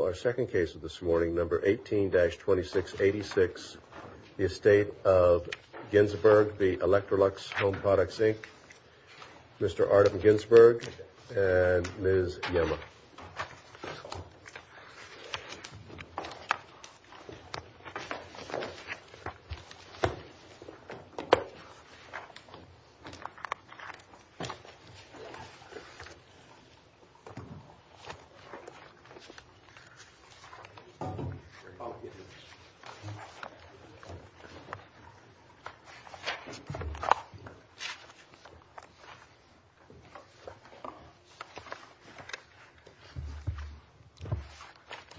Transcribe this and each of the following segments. Our second case of this morning, number 18-2686, The Estate of Ginzburg v. Electrolux Home Products, Inc., Mr. Artem Ginzburg and Ms. Yemma.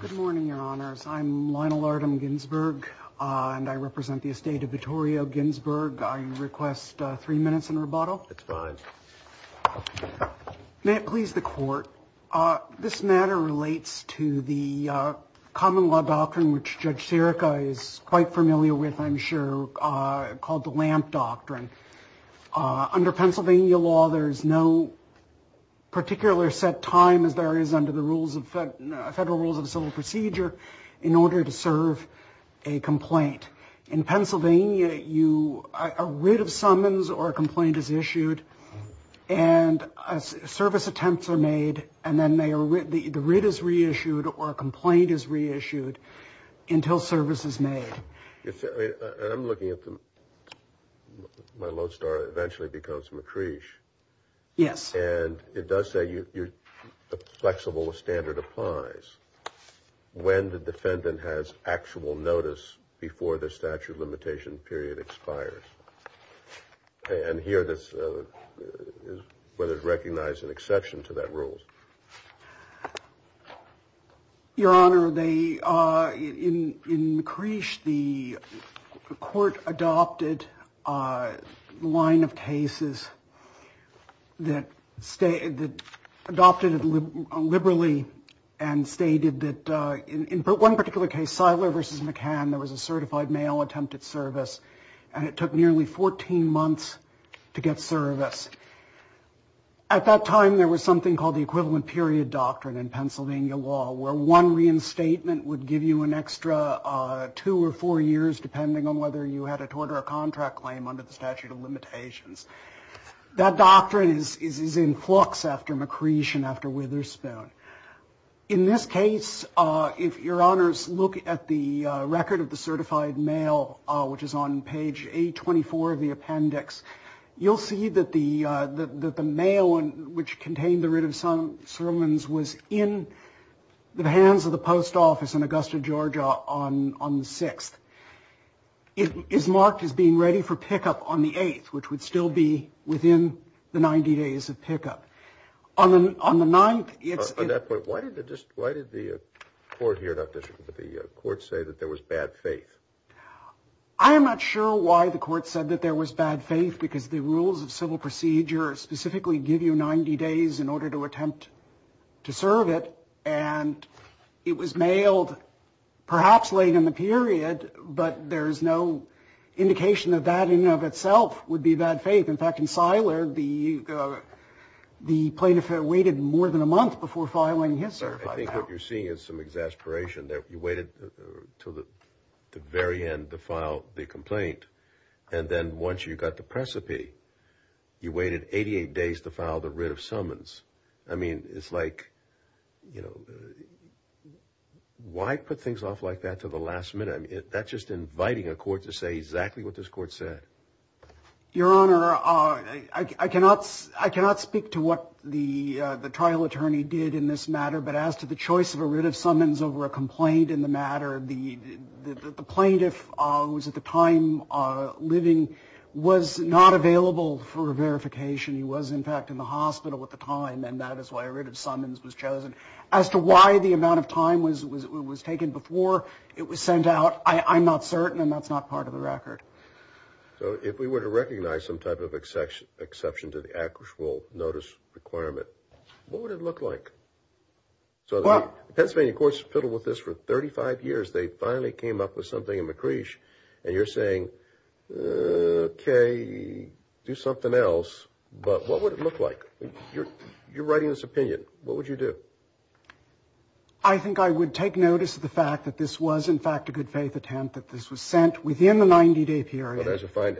Good morning, Your Honors. I'm Lionel Artem Ginzburg and I represent the Estate of Vittorio Ginzburg. I request three minutes in rebuttal. It's fine. May it please the Court. This matter relates to the common law doctrine, which Judge Sirica is quite familiar with, I'm sure, called the Lamp Doctrine. Under Pennsylvania law, there's no particular set time as there is under the rules of federal rules of civil procedure in order to serve a complaint. In Pennsylvania, a writ of summons or a complaint is issued and service attempts are made and then the writ is reissued or a complaint is reissued until service is made. I'm looking at them. My lodestar eventually becomes matric. Yes. And it does say the flexible standard applies when the defendant has actual notice before the statute of limitation period expires. And here, this is what is recognized an exception to that rules. Your Honor, they in McCreesh, the court adopted a line of cases that adopted it liberally and stated that in one particular case, Siler versus McCann, there was a certified male attempted service and it took nearly 14 months to get service. At that time, there was something called the equivalent period doctrine in Pennsylvania law where one reinstatement would give you an extra two or four years, depending on whether you had a tort or a contract claim under the statute of limitations. That doctrine is in flux after McCreesh and after Witherspoon. In this case, if your honors look at the record of the certified male, which is on page 824 of the appendix, you'll see that the mail which contained the writ of some sermons was in the hands of the post office in Augusta, Georgia on the 6th. It is marked as being ready for pickup on the 8th, which would still be within the 90 days of pickup. On the 9th, it's... On that point, why did the court say that there was bad faith? I am not sure why the court said that there was bad faith because the rules of civil procedure specifically give you 90 days in order to attempt to serve it and it was mailed perhaps late in the period, but there is no indication that that in and of itself would be bad faith. In fact, in Siler, the plaintiff had waited more than a month before filing his certified mail. I think what you're seeing is some exasperation that you waited till the very end to file the complaint and then once you got the precipi, you waited 88 days to file the writ of summons. I mean, it's like, you know, why put things off like that to the last minute? I mean, that's just inviting a court to say exactly what this court said. Your Honor, I cannot speak to what the trial attorney did in this matter, but as to the choice of a writ of summons over a complaint in the matter, the plaintiff, who was at the time living, was not available for verification. He was, in fact, in the hospital at the time and that is why a writ of summons was chosen. As to why the amount of time was taken before it was sent out, I'm not certain and that's not part of the record. So if we were to recognize some type of exception to the actual notice requirement, what would it look like? So the Pennsylvania courts fiddled with this for 35 years. They finally came up with something in McCreesh and you're saying, okay, do something else, but what would it look like? You're writing this opinion. What would you do? I think I would take notice of the fact that this was, in fact, a good faith attempt, that this was sent within the 90-day period. I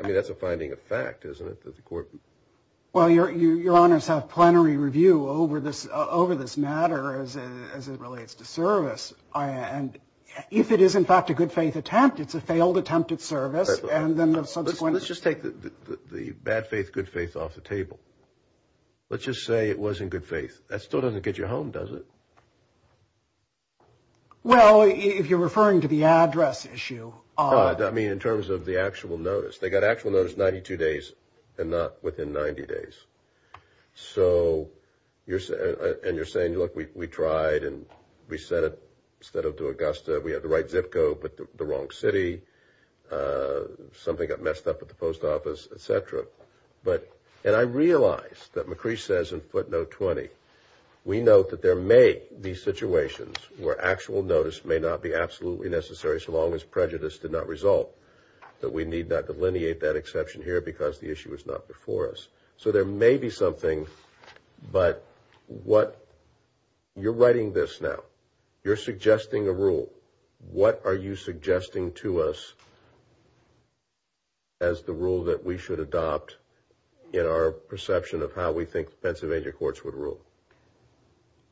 mean, that's a finding of fact, isn't it? Well, Your Honors have plenary review over this matter as it relates to service and if it is, in fact, a good faith attempt, it's a failed attempt at service and then the subsequent... Let's just take the bad faith, good faith off the table. Let's just say it was in good faith. That still doesn't get you home, does it? Well, if you're referring to the address issue... I mean, in terms of the actual notice. They got actual notice 92 days and not within 90 days. So you're saying, look, we tried and we sent it instead of to Augusta. We had the right zip code, but the wrong city. Something got messed up at the post office, etc. And I realize that McCree says in footnote 20, we note that there may be situations where actual notice may not be absolutely necessary so long as prejudice did not result, that we need not delineate that exception here because the issue was not before us. So there may be something, but what... You're suggesting a rule. What are you suggesting to us as the rule that we should adopt in our perception of how we think Pennsylvania courts would rule?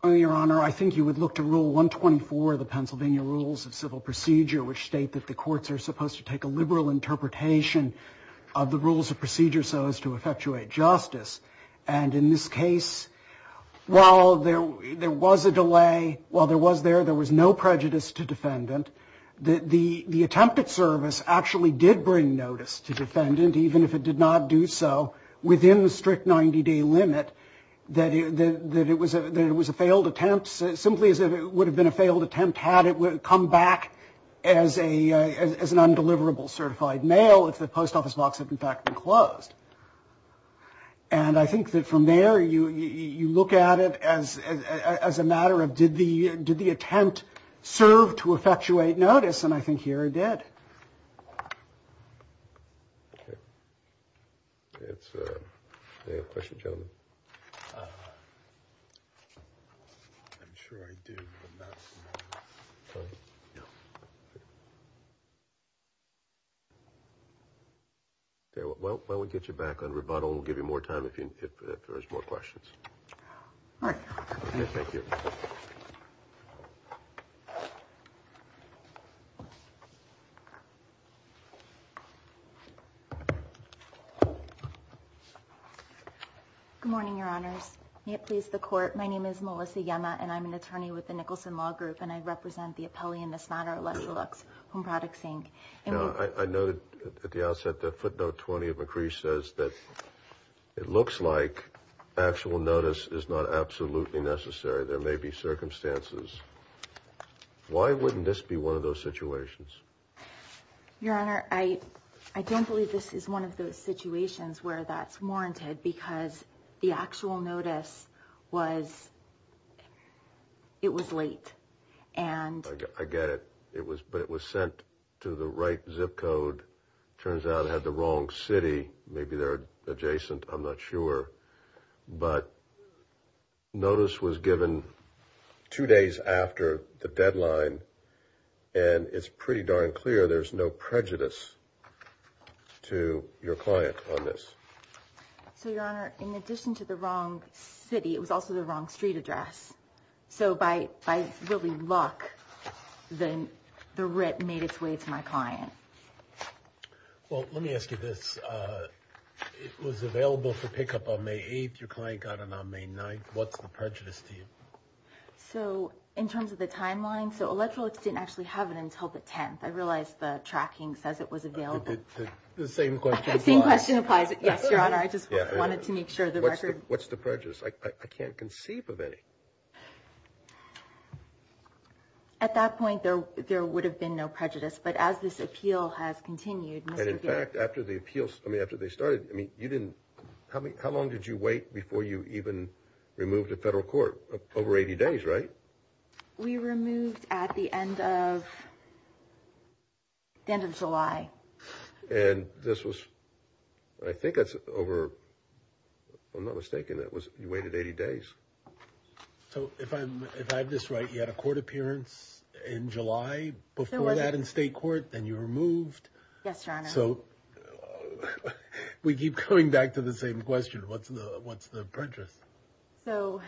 Your Honor, I think you would look to rule 124, the Pennsylvania rules of civil procedure, which state that the courts are supposed to take a liberal interpretation of the rules of procedure so as to effectuate justice. And in this case, while there was a delay, while there was there, there was no prejudice to defendant, that the attempted service actually did bring notice to defendant, even if it did not do so within the strict 90-day limit, that it was a failed attempt, simply as it would have been a failed attempt had it come back as an undeliverable certified mail if the post office box had in fact been closed. And I think that from there, you look at it as a matter of did the attempt serve to effectuate notice? And I think here it did. It's a question, gentlemen. I'm sure I do. Well, we'll get you back on rebuttal. We'll give you more time if there's more questions. Thank you. Good morning, Your Honors. May it please the Court. My name is Melissa Yema, and I'm an attorney with the Nicholson Law Group, and I represent the appellee in this matter, Alessa Lux, Home Products, Inc. I noted at the outset that footnote 20 of McCree says that it looks like actual notice is not absolutely necessary. There may be circumstances. Why wouldn't this be one of those situations? Your Honor, I don't believe this is one of those situations where that's warranted because the actual notice was... It was late, and... I get it. But it was sent to the right zip code. Turns out it had the wrong city. Maybe they're adjacent. I'm not sure. But notice was given two days after the deadline, and it's pretty darn clear there's no prejudice to your client on this. So, Your Honor, in addition to the wrong city, it was also the wrong street address. So by really luck, the writ made its way to my client. Well, let me ask you this. It was available for pickup on May 8th. Your client got it on May 9th. What's the prejudice to you? So, in terms of the timeline, so Electrolux didn't actually have it until the 10th. I realize the tracking says it was available. The same question applies. The same question applies. Yes, Your Honor. I just wanted to make sure the record... What's the prejudice? I can't conceive of any. At that point, there would have been no prejudice. But as this appeal has continued... And, in fact, after the appeals... I mean, after they started, I mean, you didn't... How long did you wait before you even removed to federal court? Over 80 days, right? We removed at the end of July. And this was... I think that's over... I'm not mistaken. That was... You waited 80 days. So, if I'm... If I have this right, you had a court appearance in July? Before that in state court, then you were removed. Yes, Your Honor. So, we keep coming back to the same question. What's the prejudice? So,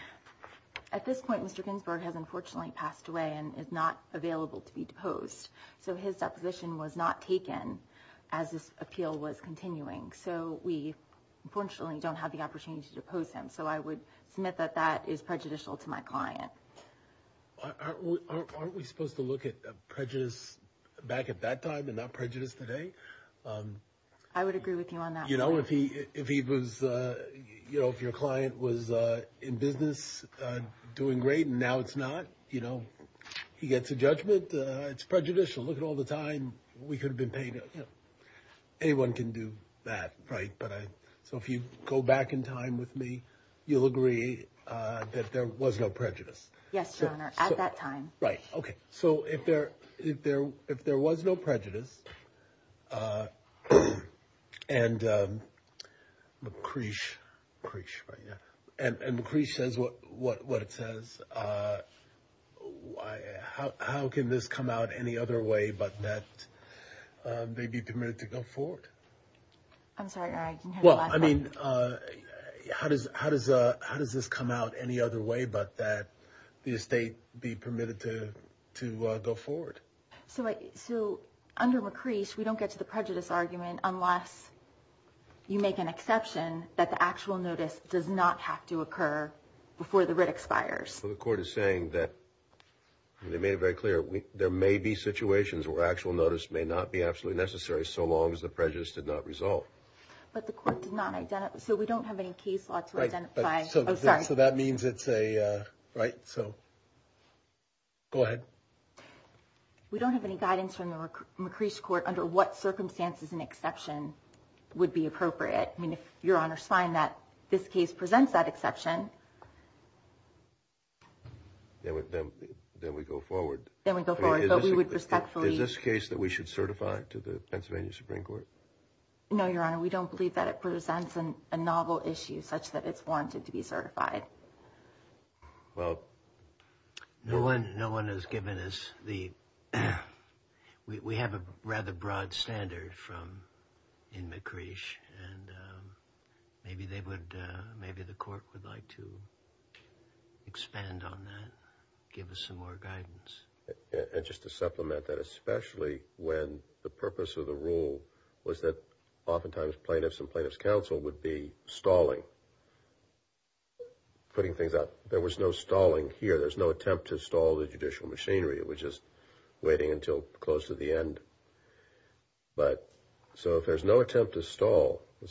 at this point, Mr. Ginsburg has unfortunately passed away and is not available to be deposed. So, his deposition was not taken as this appeal was continuing. So, we unfortunately don't have the opportunity to depose him. So, I would submit that that is prejudicial to my client. Aren't we supposed to look at prejudice back at that time and not prejudice today? I would agree with you on that. You know, if he was... You know, if your client was in business doing great and now it's not, you know, he gets a judgment. It's prejudicial. Look at all the time we could have been paid. Anyone can do that, right? So, if you go back in time with me, you'll agree that there was no prejudice. Yes, Your Honor, at that time. Right. Okay. So, if there was no prejudice and McCree says what it says, how can this come out any other way but that they be permitted to go forward? I'm sorry, Your Honor, I didn't hear the last part. Well, I mean, how does this come out any other way but that the estate be permitted to go forward? So, under McCree, we don't get to the prejudice argument unless you make an exception that the actual notice does not have to occur before the writ expires. So, the court is saying that, and they made it very clear, there may be situations where actual notice may not be absolutely necessary so long as the prejudice did not resolve. But the court did not identify... So, we don't have any case law to identify... So, that means it's a... Right. So, go ahead. We don't have any guidance from the McCree's court under what circumstances an exception would be appropriate. I mean, if Your Honor's find that this case presents that exception... Then we go forward. Then we go forward, but we would respectfully... Is this case that we should certify to the Pennsylvania Supreme Court? No, Your Honor, we don't believe that it presents a novel issue such that it's wanted to be certified. Well... No one has given us the... We have a rather broad standard from... In McCree's, and maybe they would... Maybe the court would like to expand on that, give us some more guidance. And just to supplement that, especially when the purpose of the rule was that oftentimes plaintiffs and plaintiffs counsel would be stalling. Putting things out. There was no stalling here. There's no attempt to stall the judicial machinery. It was just waiting until close to the end. But... So, if there's no attempt to stall... Why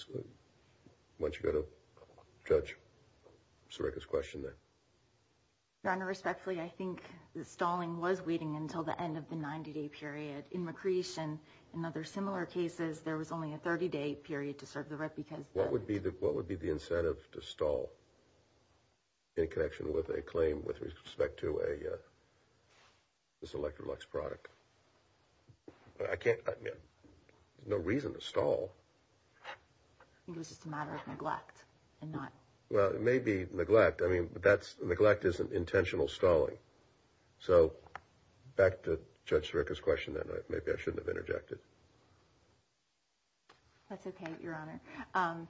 don't you go to Judge Sirica's question there. Your Honor, respectfully, I think the stalling was waiting until the end of the 90-day period. In McCree's and in other similar cases, there was only a 30-day period to serve the right because... What would be the incentive to stall in connection with a claim with respect to this Electrolux product? I can't... There's no reason to stall. It was just a matter of neglect and not... Well, it may be neglect. I mean, that's... Neglect isn't intentional stalling. So, back to Judge Sirica's question then. Maybe I shouldn't have interjected. That's okay, Your Honor.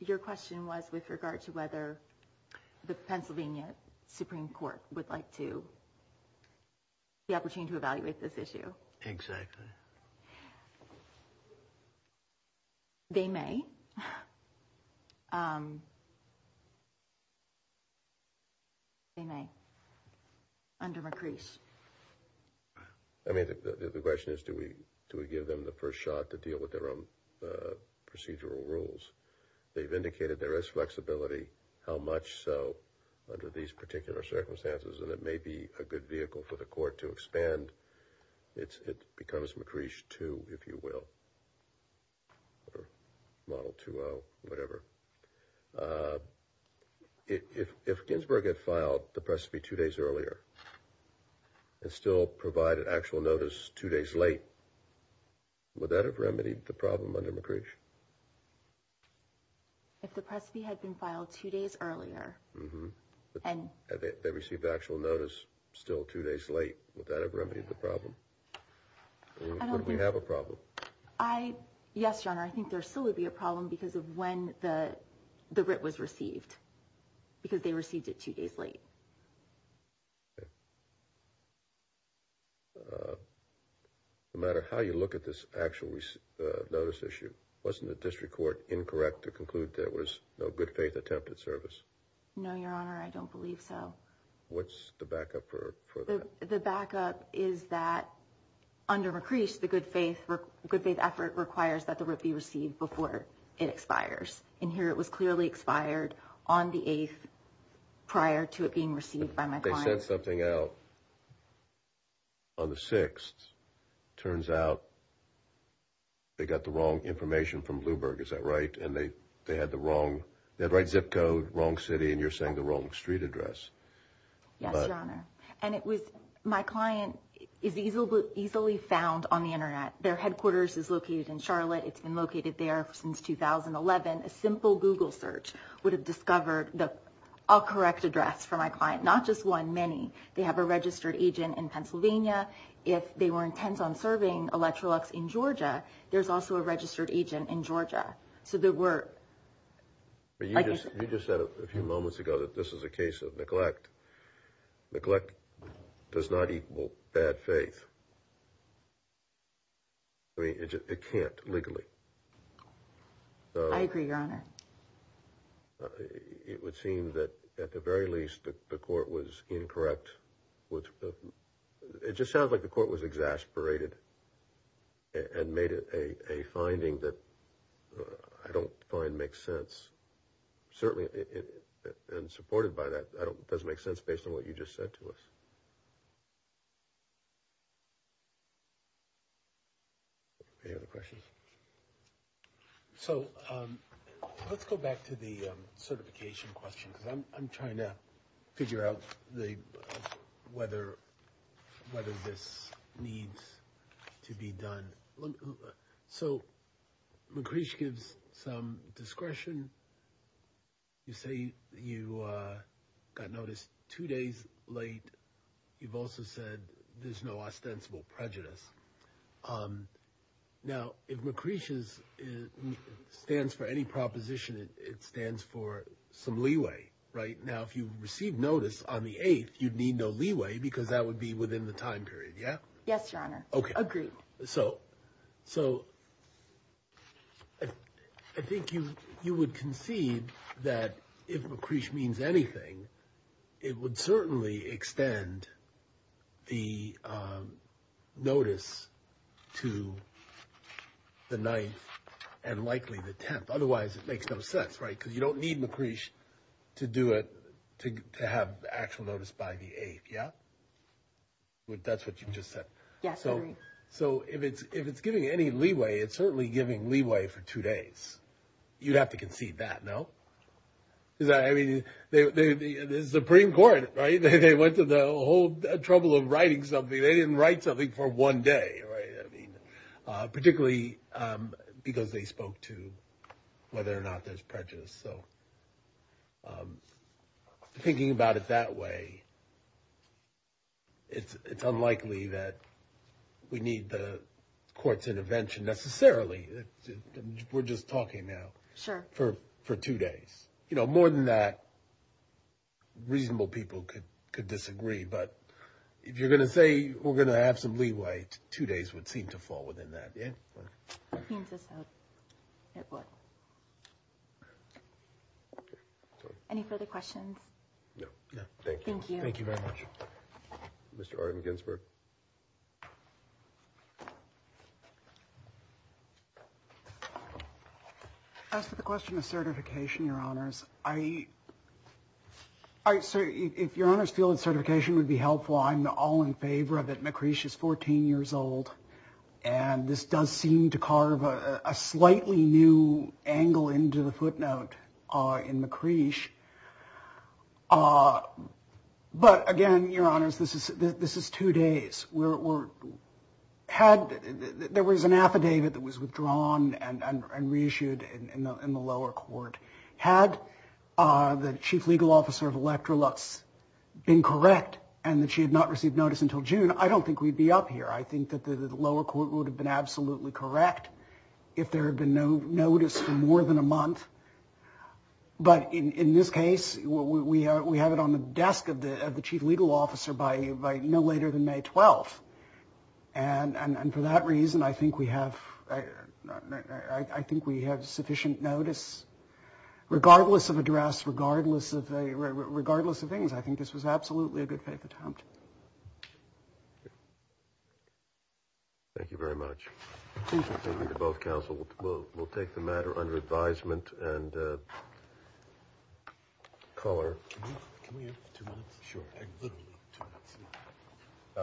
Your question was with regard to whether the Pennsylvania Supreme Court would like to... The opportunity to evaluate this issue. Exactly. They may. They may. Under McCree's. I mean, the question is, do we give them the first shot to deal with their own procedural rules? They've indicated there is flexibility. How much so under these particular circumstances? And it may be a good vehicle for the court to expand. It becomes McCree's too, if you will. Model 2-0, whatever. If Ginsburg had filed the precipice two days earlier and still provided actual notice two days late, would that have remedied the problem under McCree's? If the precipice had been filed two days earlier and... Had they received actual notice still two days late, would that have remedied the problem? I don't think... Or would we have a problem? Yes, Your Honor. I think there still would be a problem because of when the writ was received, because they received it two days late. No matter how you look at this actual notice issue, wasn't the district court incorrect to conclude there was no good faith attempt at service? No, Your Honor, I don't believe so. What's the backup for that? The backup is that under McCree's, the good faith effort requires that the writ be received before it expires. And here it was clearly expired on the 8th prior to it being received by my client. They sent something out on the 6th. Turns out they got the wrong information from Bloomberg, is that right? And they had the wrong... They had the right zip code, wrong city, and you're saying the wrong street address. Yes, Your Honor. And it was... My client is easily found on the Internet. Their headquarters is located in Charlotte. It's been located there since 2011. A simple Google search would have discovered the correct address for my client. Not just one, many. They have a registered agent in Pennsylvania. If they were intent on serving Electrolux in Georgia, there's also a registered agent in Georgia. So there were... You just said a few moments ago that this is a case of neglect. Neglect does not equal bad faith. I mean, it can't legally. I agree, Your Honor. It would seem that at the very least the court was incorrect with... It just sounds like the court was exasperated and made a finding that I don't find makes sense. Certainly, and supported by that, it doesn't make sense based on what you just said to us. Any other questions? So let's go back to the certification question because I'm trying to figure out whether this needs to be done. So McCreech gives some discretion. You say you got noticed two days late. You've also said there's no ostensible prejudice. Now, if McCreech stands for any proposition, it stands for some leeway, right? Now, if you received notice on the 8th, you'd need no leeway because that would be within the time period, yeah? Yes, Your Honor. Agreed. So I think you would concede that if McCreech means anything, it would certainly extend the notice to the 9th and likely the 10th. Otherwise, it makes no sense, right? Because you don't need McCreech to have actual notice by the 8th, yeah? That's what you just said. So if it's giving any leeway, it's certainly giving leeway for two days. You'd have to concede that, no? I mean, the Supreme Court, right? They went to the whole trouble of writing something. They didn't write something for one day, right? Particularly because they spoke to whether or not there's prejudice. So thinking about it that way, it's unlikely that we need the court's intervention necessarily. We're just talking now for two days. More than that, reasonable people could disagree. But if you're going to say we're going to have some leeway, two days would seem to fall within that, yeah? It seems as though it would. Any further questions? No, thank you. Thank you very much. Mr. Arden Ginsberg. As for the question of certification, Your Honors, if Your Honors feel that certification would be helpful, I'm all in favor of it. McCreesh is 14 years old. And this does seem to carve a slightly new angle into the footnote in McCreesh. But, again, Your Honors, this is two days. There was an affidavit that was withdrawn and reissued in the lower court. Had the chief legal officer of Electrolux been correct and that she had not received notice until June, I don't think we'd be up here. I think that the lower court would have been absolutely correct if there had been no notice for more than a month. But in this case, we have it on the desk of the chief legal officer by no later than May 12th. And for that reason, I think we have sufficient notice, regardless of address, regardless of things. I think this was absolutely a good paper to hunt. Thank you very much. Thank you to both counsel. We'll take the matter under advisement and call her. Can we have two minutes? Sure.